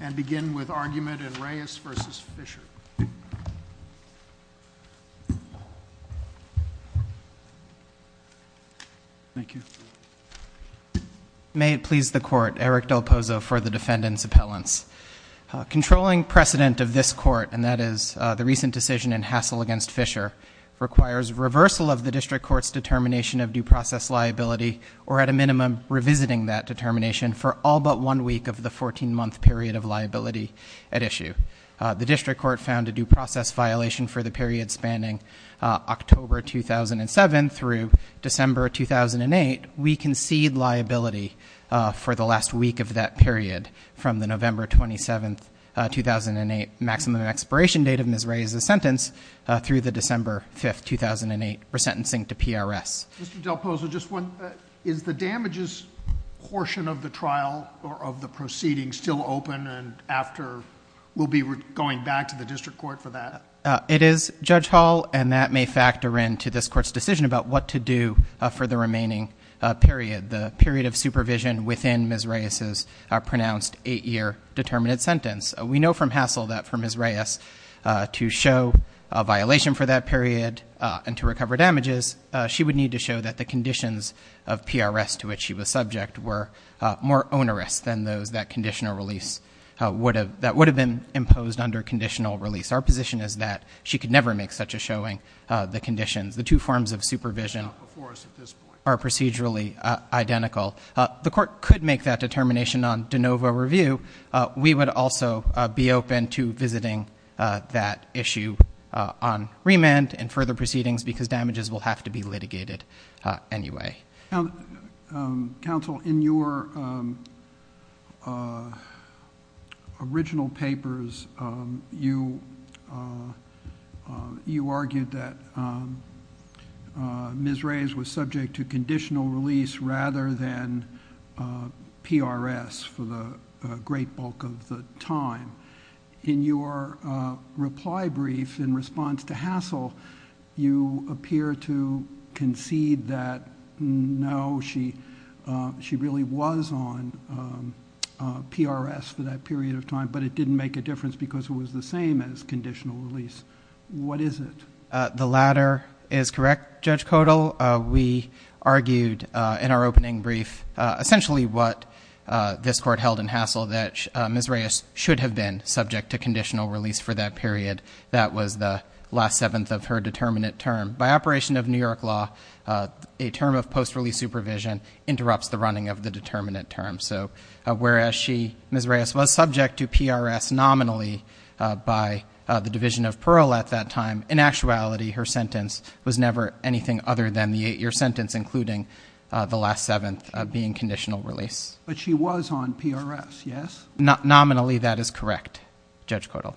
and begin with argument in Reyes v. Fisher. Thank you. May it please the court, Eric Del Pozo for the defendant's appellants. Controlling precedent of this court, and that is the recent decision in Hassell v. Fisher, requires reversal of the district court's determination of due process liability, or at a minimum, revisiting that determination for all but one week of the 14-month period of liability at issue. The district court found a due process violation for the period spanning October 2007 through December 2008. We concede liability for the last week of that period from the November 27, 2008, maximum expiration date of Ms. Reyes' sentence through the December 5, 2008, resentencing to PRS. Mr. Del Pozo, just one, is the damages portion of the trial or of the proceeding still open and after we'll be going back to the district court for that? It is, Judge Hall, and that may factor into this court's decision about what to do for the remaining period, the period of supervision within Ms. Reyes' pronounced eight-year determinate sentence. We know from Hassell that for Ms. Reyes to show a violation for that period and to recover damages, she would need to show that the conditions of PRS to which she was subject were more onerous than those that would have been imposed under conditional release. Our position is that she could never make such a showing, the conditions. The two forms of supervision are procedurally identical. The court could make that determination on de novo review. We would also be open to visiting that issue on remand and further proceedings because damages will have to be litigated anyway. Counsel, in your original papers, you argued that Ms. Reyes was subject to conditional release rather than PRS for the great bulk of the time. In your reply brief in response to Hassell, you appear to concede that no, she really was on PRS for that period of time, but it didn't make a difference because it was the same as conditional release. What is it? The latter is correct, Judge Codall. We argued in our opening brief essentially what this court held in Hassell, that Ms. Reyes should have been subject to conditional release for that period. That was the last seventh of her determinant term. By operation of New York law, a term of post-release supervision interrupts the running of the determinant term. So whereas Ms. Reyes was subject to PRS nominally by the Division of Parole at that time, in actuality her sentence was never anything other than the eight-year sentence, including the last seventh being conditional release. But she was on PRS, yes? Nominally, that is correct, Judge Codall,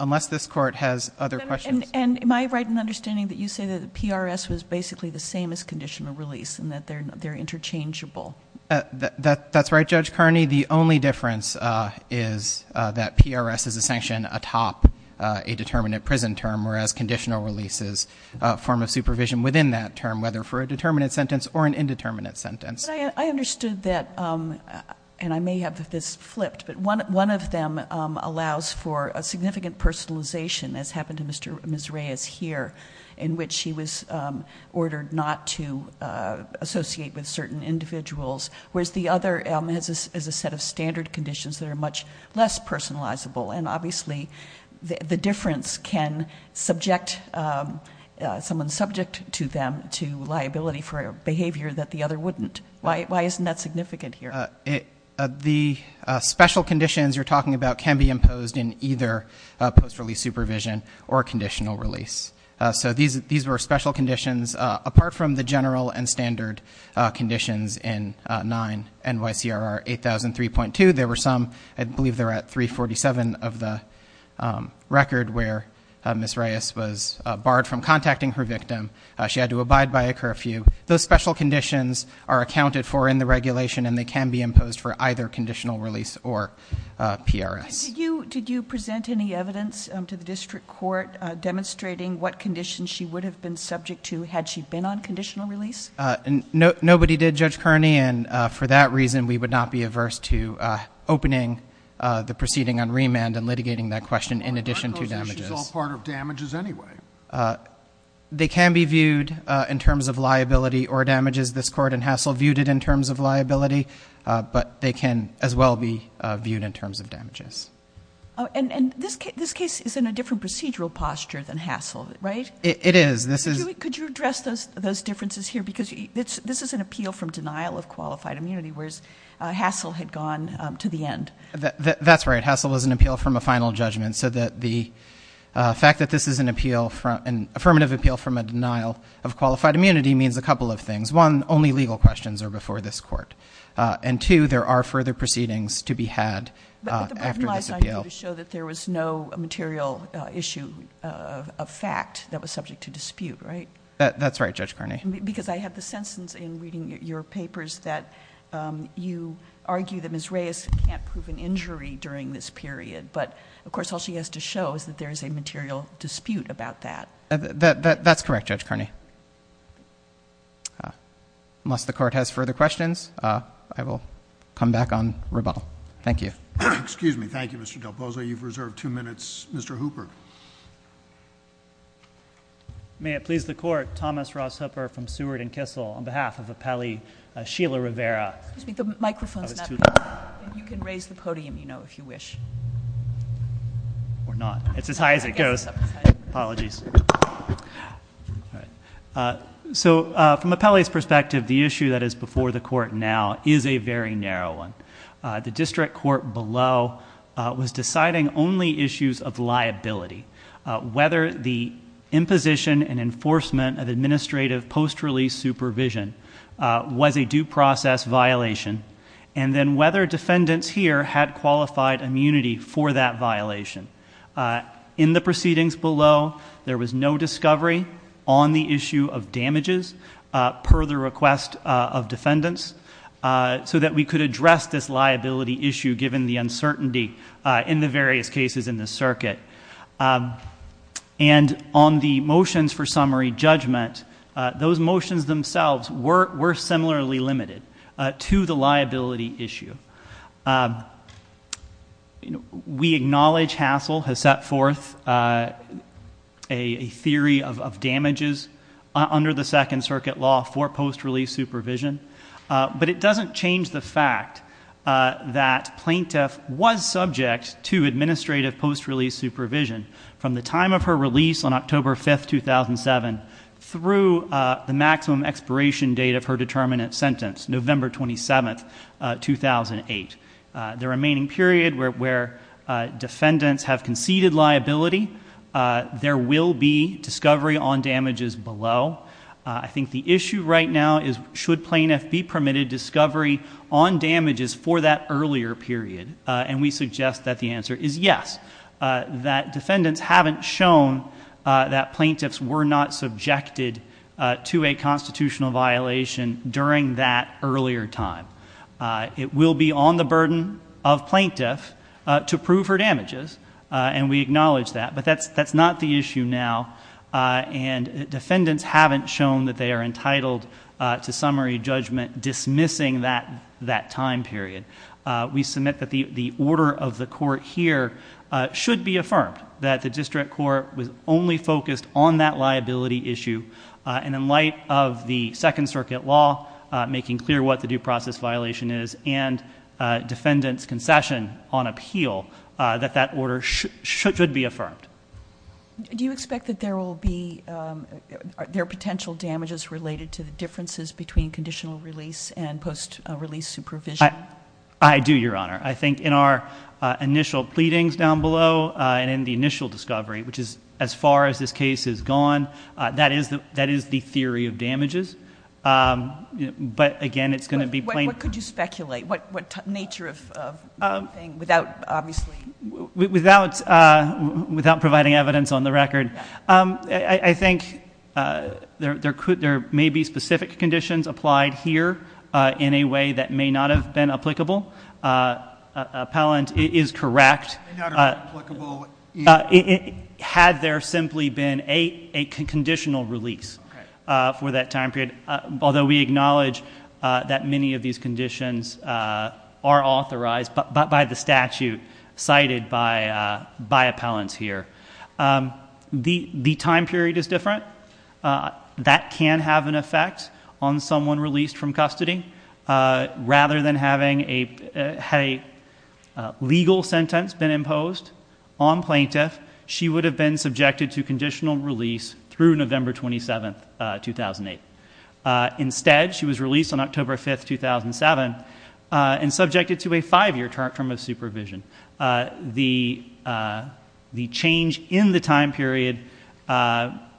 unless this court has other questions. And am I right in understanding that you say that PRS was basically the same as conditional release and that they're interchangeable? That's right, Judge Kearney. For me, the only difference is that PRS is a sanction atop a determinant prison term, whereas conditional release is a form of supervision within that term, whether for a determinant sentence or an indeterminate sentence. I understood that, and I may have this flipped, but one of them allows for a significant personalization, as happened to Ms. Reyes here, in which she was ordered not to associate with certain individuals, whereas the other has a set of standard conditions that are much less personalizable. And obviously the difference can subject someone subject to them to liability for a behavior that the other wouldn't. Why isn't that significant here? The special conditions you're talking about can be imposed in either post-release supervision or conditional release. These were special conditions apart from the general and standard conditions in 9 NYCRR 8003.2. There were some, I believe they're at 347 of the record, where Ms. Reyes was barred from contacting her victim. She had to abide by a curfew. Those special conditions are accounted for in the regulation, and they can be imposed for either conditional release or PRS. Did you present any evidence to the district court demonstrating what conditions she would have been subject to had she been on conditional release? Nobody did, Judge Kearney, and for that reason we would not be averse to opening the proceeding on remand and litigating that question in addition to damages. Aren't those issues all part of damages anyway? They can be viewed in terms of liability or damages. This court and Hassell viewed it in terms of liability, but they can as well be viewed in terms of damages. And this case is in a different procedural posture than Hassell, right? It is. Could you address those differences here? Because this is an appeal from denial of qualified immunity, whereas Hassell had gone to the end. That's right. Hassell was an appeal from a final judgment, so the fact that this is an affirmative appeal from a denial of qualified immunity means a couple of things. One, only legal questions are before this court. And two, there are further proceedings to be had after this appeal. But the bottom line is to show that there was no material issue of fact that was subject to dispute, right? That's right, Judge Kearney. Because I have the sense in reading your papers that you argue that Ms. Reyes can't prove an injury during this period, but of course all she has to show is that there is a material dispute about that. That's correct, Judge Kearney. Unless the court has further questions, I will come back on rebuttal. Thank you. Excuse me. Thank you, Mr. Del Pozo. You've reserved two minutes. Mr. Hooper. May it please the court, Thomas Ross Hooper from Seward and Kissel, on behalf of appellee Sheila Rivera. Excuse me. The microphone's not on. You can raise the podium, you know, if you wish. Or not. It's as high as it goes. Apologies. All right. So, from appellee's perspective, the issue that is before the court now is a very narrow one. The district court below was deciding only issues of liability, whether the imposition and enforcement of administrative post-release supervision was a due process violation, and then whether defendants here had qualified immunity for that violation. In the proceedings below, there was no discovery on the issue of damages per the request of defendants, so that we could address this liability issue given the uncertainty in the various cases in the circuit. And on the motions for summary judgment, those motions themselves were similarly limited to the liability issue. We acknowledge Hassell has set forth a theory of damages under the Second Circuit law for post-release supervision, but it doesn't change the fact that plaintiff was subject to administrative post-release supervision from the time of her release on October 5, 2007, through the maximum expiration date of her determinant sentence, November 27, 2008. The remaining period where defendants have conceded liability, there will be discovery on damages below. I think the issue right now is should plaintiff be permitted discovery on damages for that earlier period, and we suggest that the answer is yes. That defendants haven't shown that plaintiffs were not subjected to a constitutional violation during that earlier time. It will be on the burden of plaintiff to prove her damages, and we acknowledge that. But that's not the issue now, and defendants haven't shown that they are entitled to summary judgment dismissing that time period. We submit that the order of the court here should be affirmed, that the district court was only focused on that liability issue, and in light of the Second Circuit law making clear what the due process violation is and defendants' concession on appeal, that that order should be affirmed. Do you expect that there will be potential damages related to the differences between conditional release and post-release supervision? I do, Your Honor. I think in our initial pleadings down below and in the initial discovery, which is as far as this case has gone, that is the theory of damages. But, again, it's going to be plaintiff. What could you speculate? What nature of thing? Without providing evidence on the record, I think there may be specific conditions applied here in a way that may not have been applicable. Appellant is correct. Had there simply been a conditional release for that time period, although we acknowledge that many of these conditions are authorized by the statute cited by appellants here, the time period is different. That can have an effect on someone released from custody. Rather than having a legal sentence been imposed on plaintiff, she would have been subjected to conditional release through November 27, 2008. Instead, she was released on October 5, 2007 and subjected to a five-year term of supervision. The change in the time period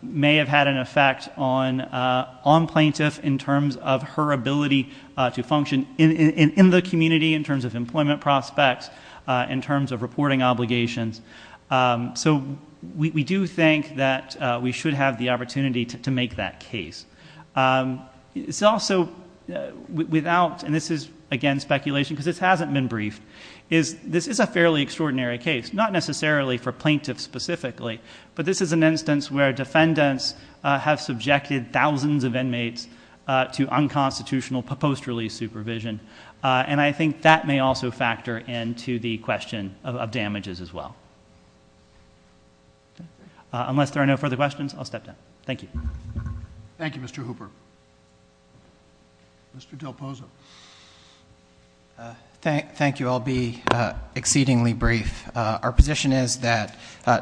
may have had an effect on plaintiff in terms of her ability to function in the community, in terms of employment prospects, in terms of reporting obligations. We do think that we should have the opportunity to make that case. This is, again, speculation because this hasn't been briefed. This is a fairly extraordinary case, not necessarily for plaintiffs specifically, but this is an instance where defendants have subjected thousands of inmates to unconstitutional post-release supervision. I think that may also factor into the question of damages as well. Unless there are no further questions, I'll step down. Thank you. Thank you, Mr. Hooper. Mr. Del Pozo. Thank you. I'll be exceedingly brief. Our position is that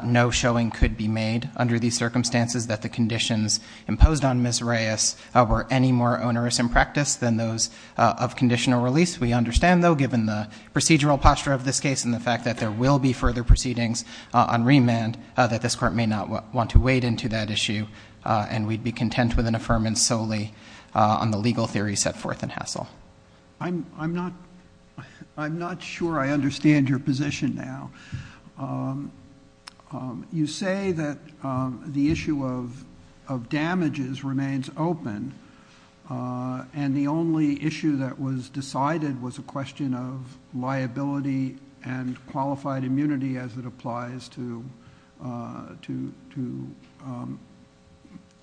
no showing could be made under these circumstances that the conditions imposed on Ms. Reyes were any more onerous in practice than those of conditional release. We understand, though, given the procedural posture of this case and the fact that there will be further proceedings on remand, that this Court may not want to wade into that issue, and we'd be content with an affirmance solely on the legal theory set forth in Hassell. I'm not sure I understand your position now. You say that the issue of damages remains open, and the only issue that was decided was a question of liability and qualified immunity as it applies to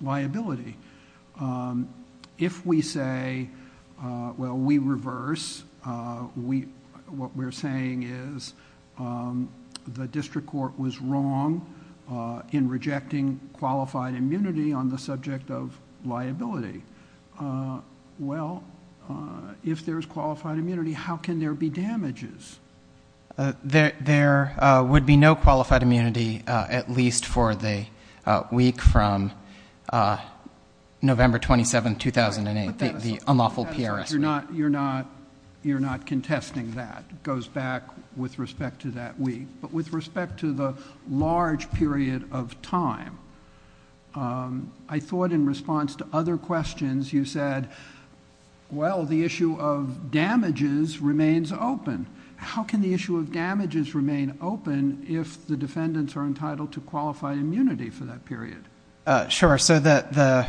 liability. If we say, well, we reverse, what we're saying is the district court was wrong in rejecting qualified immunity on the subject of liability. Well, if there's qualified immunity, how can there be damages? There would be no qualified immunity, at least for the week from November 27, 2008, the unlawful PRS week. You're not contesting that. It goes back with respect to that week. But with respect to the large period of time, I thought in response to other questions you said, well, the issue of damages remains open. How can the issue of damages remain open if the defendants are entitled to qualified immunity for that period? Sure. So the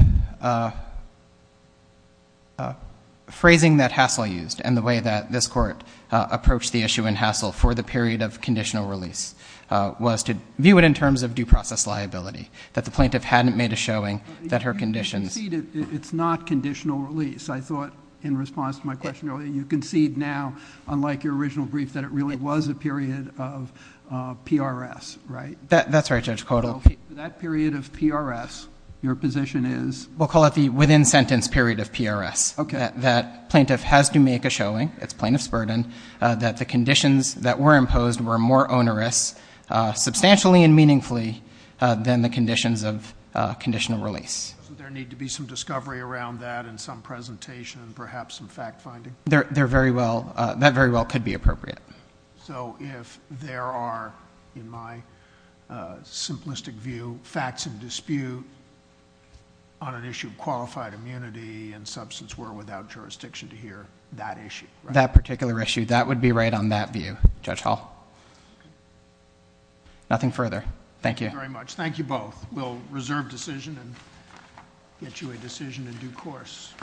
phrasing that Hassell used and the way that this Court approached the issue in Hassell for the period of conditional release was to view it in terms of due process liability, that the plaintiff hadn't made a showing that her conditions. I concede it's not conditional release. I thought in response to my question earlier, you concede now, unlike your original brief, that it really was a period of PRS, right? That's right, Judge Kotal. So that period of PRS, your position is? We'll call it the within-sentence period of PRS. Okay. That plaintiff has to make a showing, it's plaintiff's burden, that the conditions that were imposed were more onerous substantially and meaningfully than the conditions of conditional release. Doesn't there need to be some discovery around that and some presentation and perhaps some fact-finding? That very well could be appropriate. So if there are, in my simplistic view, facts of dispute on an issue of qualified immunity and substance were without jurisdiction to hear that issue? That particular issue, that would be right on that view, Judge Hall. Nothing further. Thank you. Thank you very much. Thank you both. We'll reserve decision and get you a decision in due course.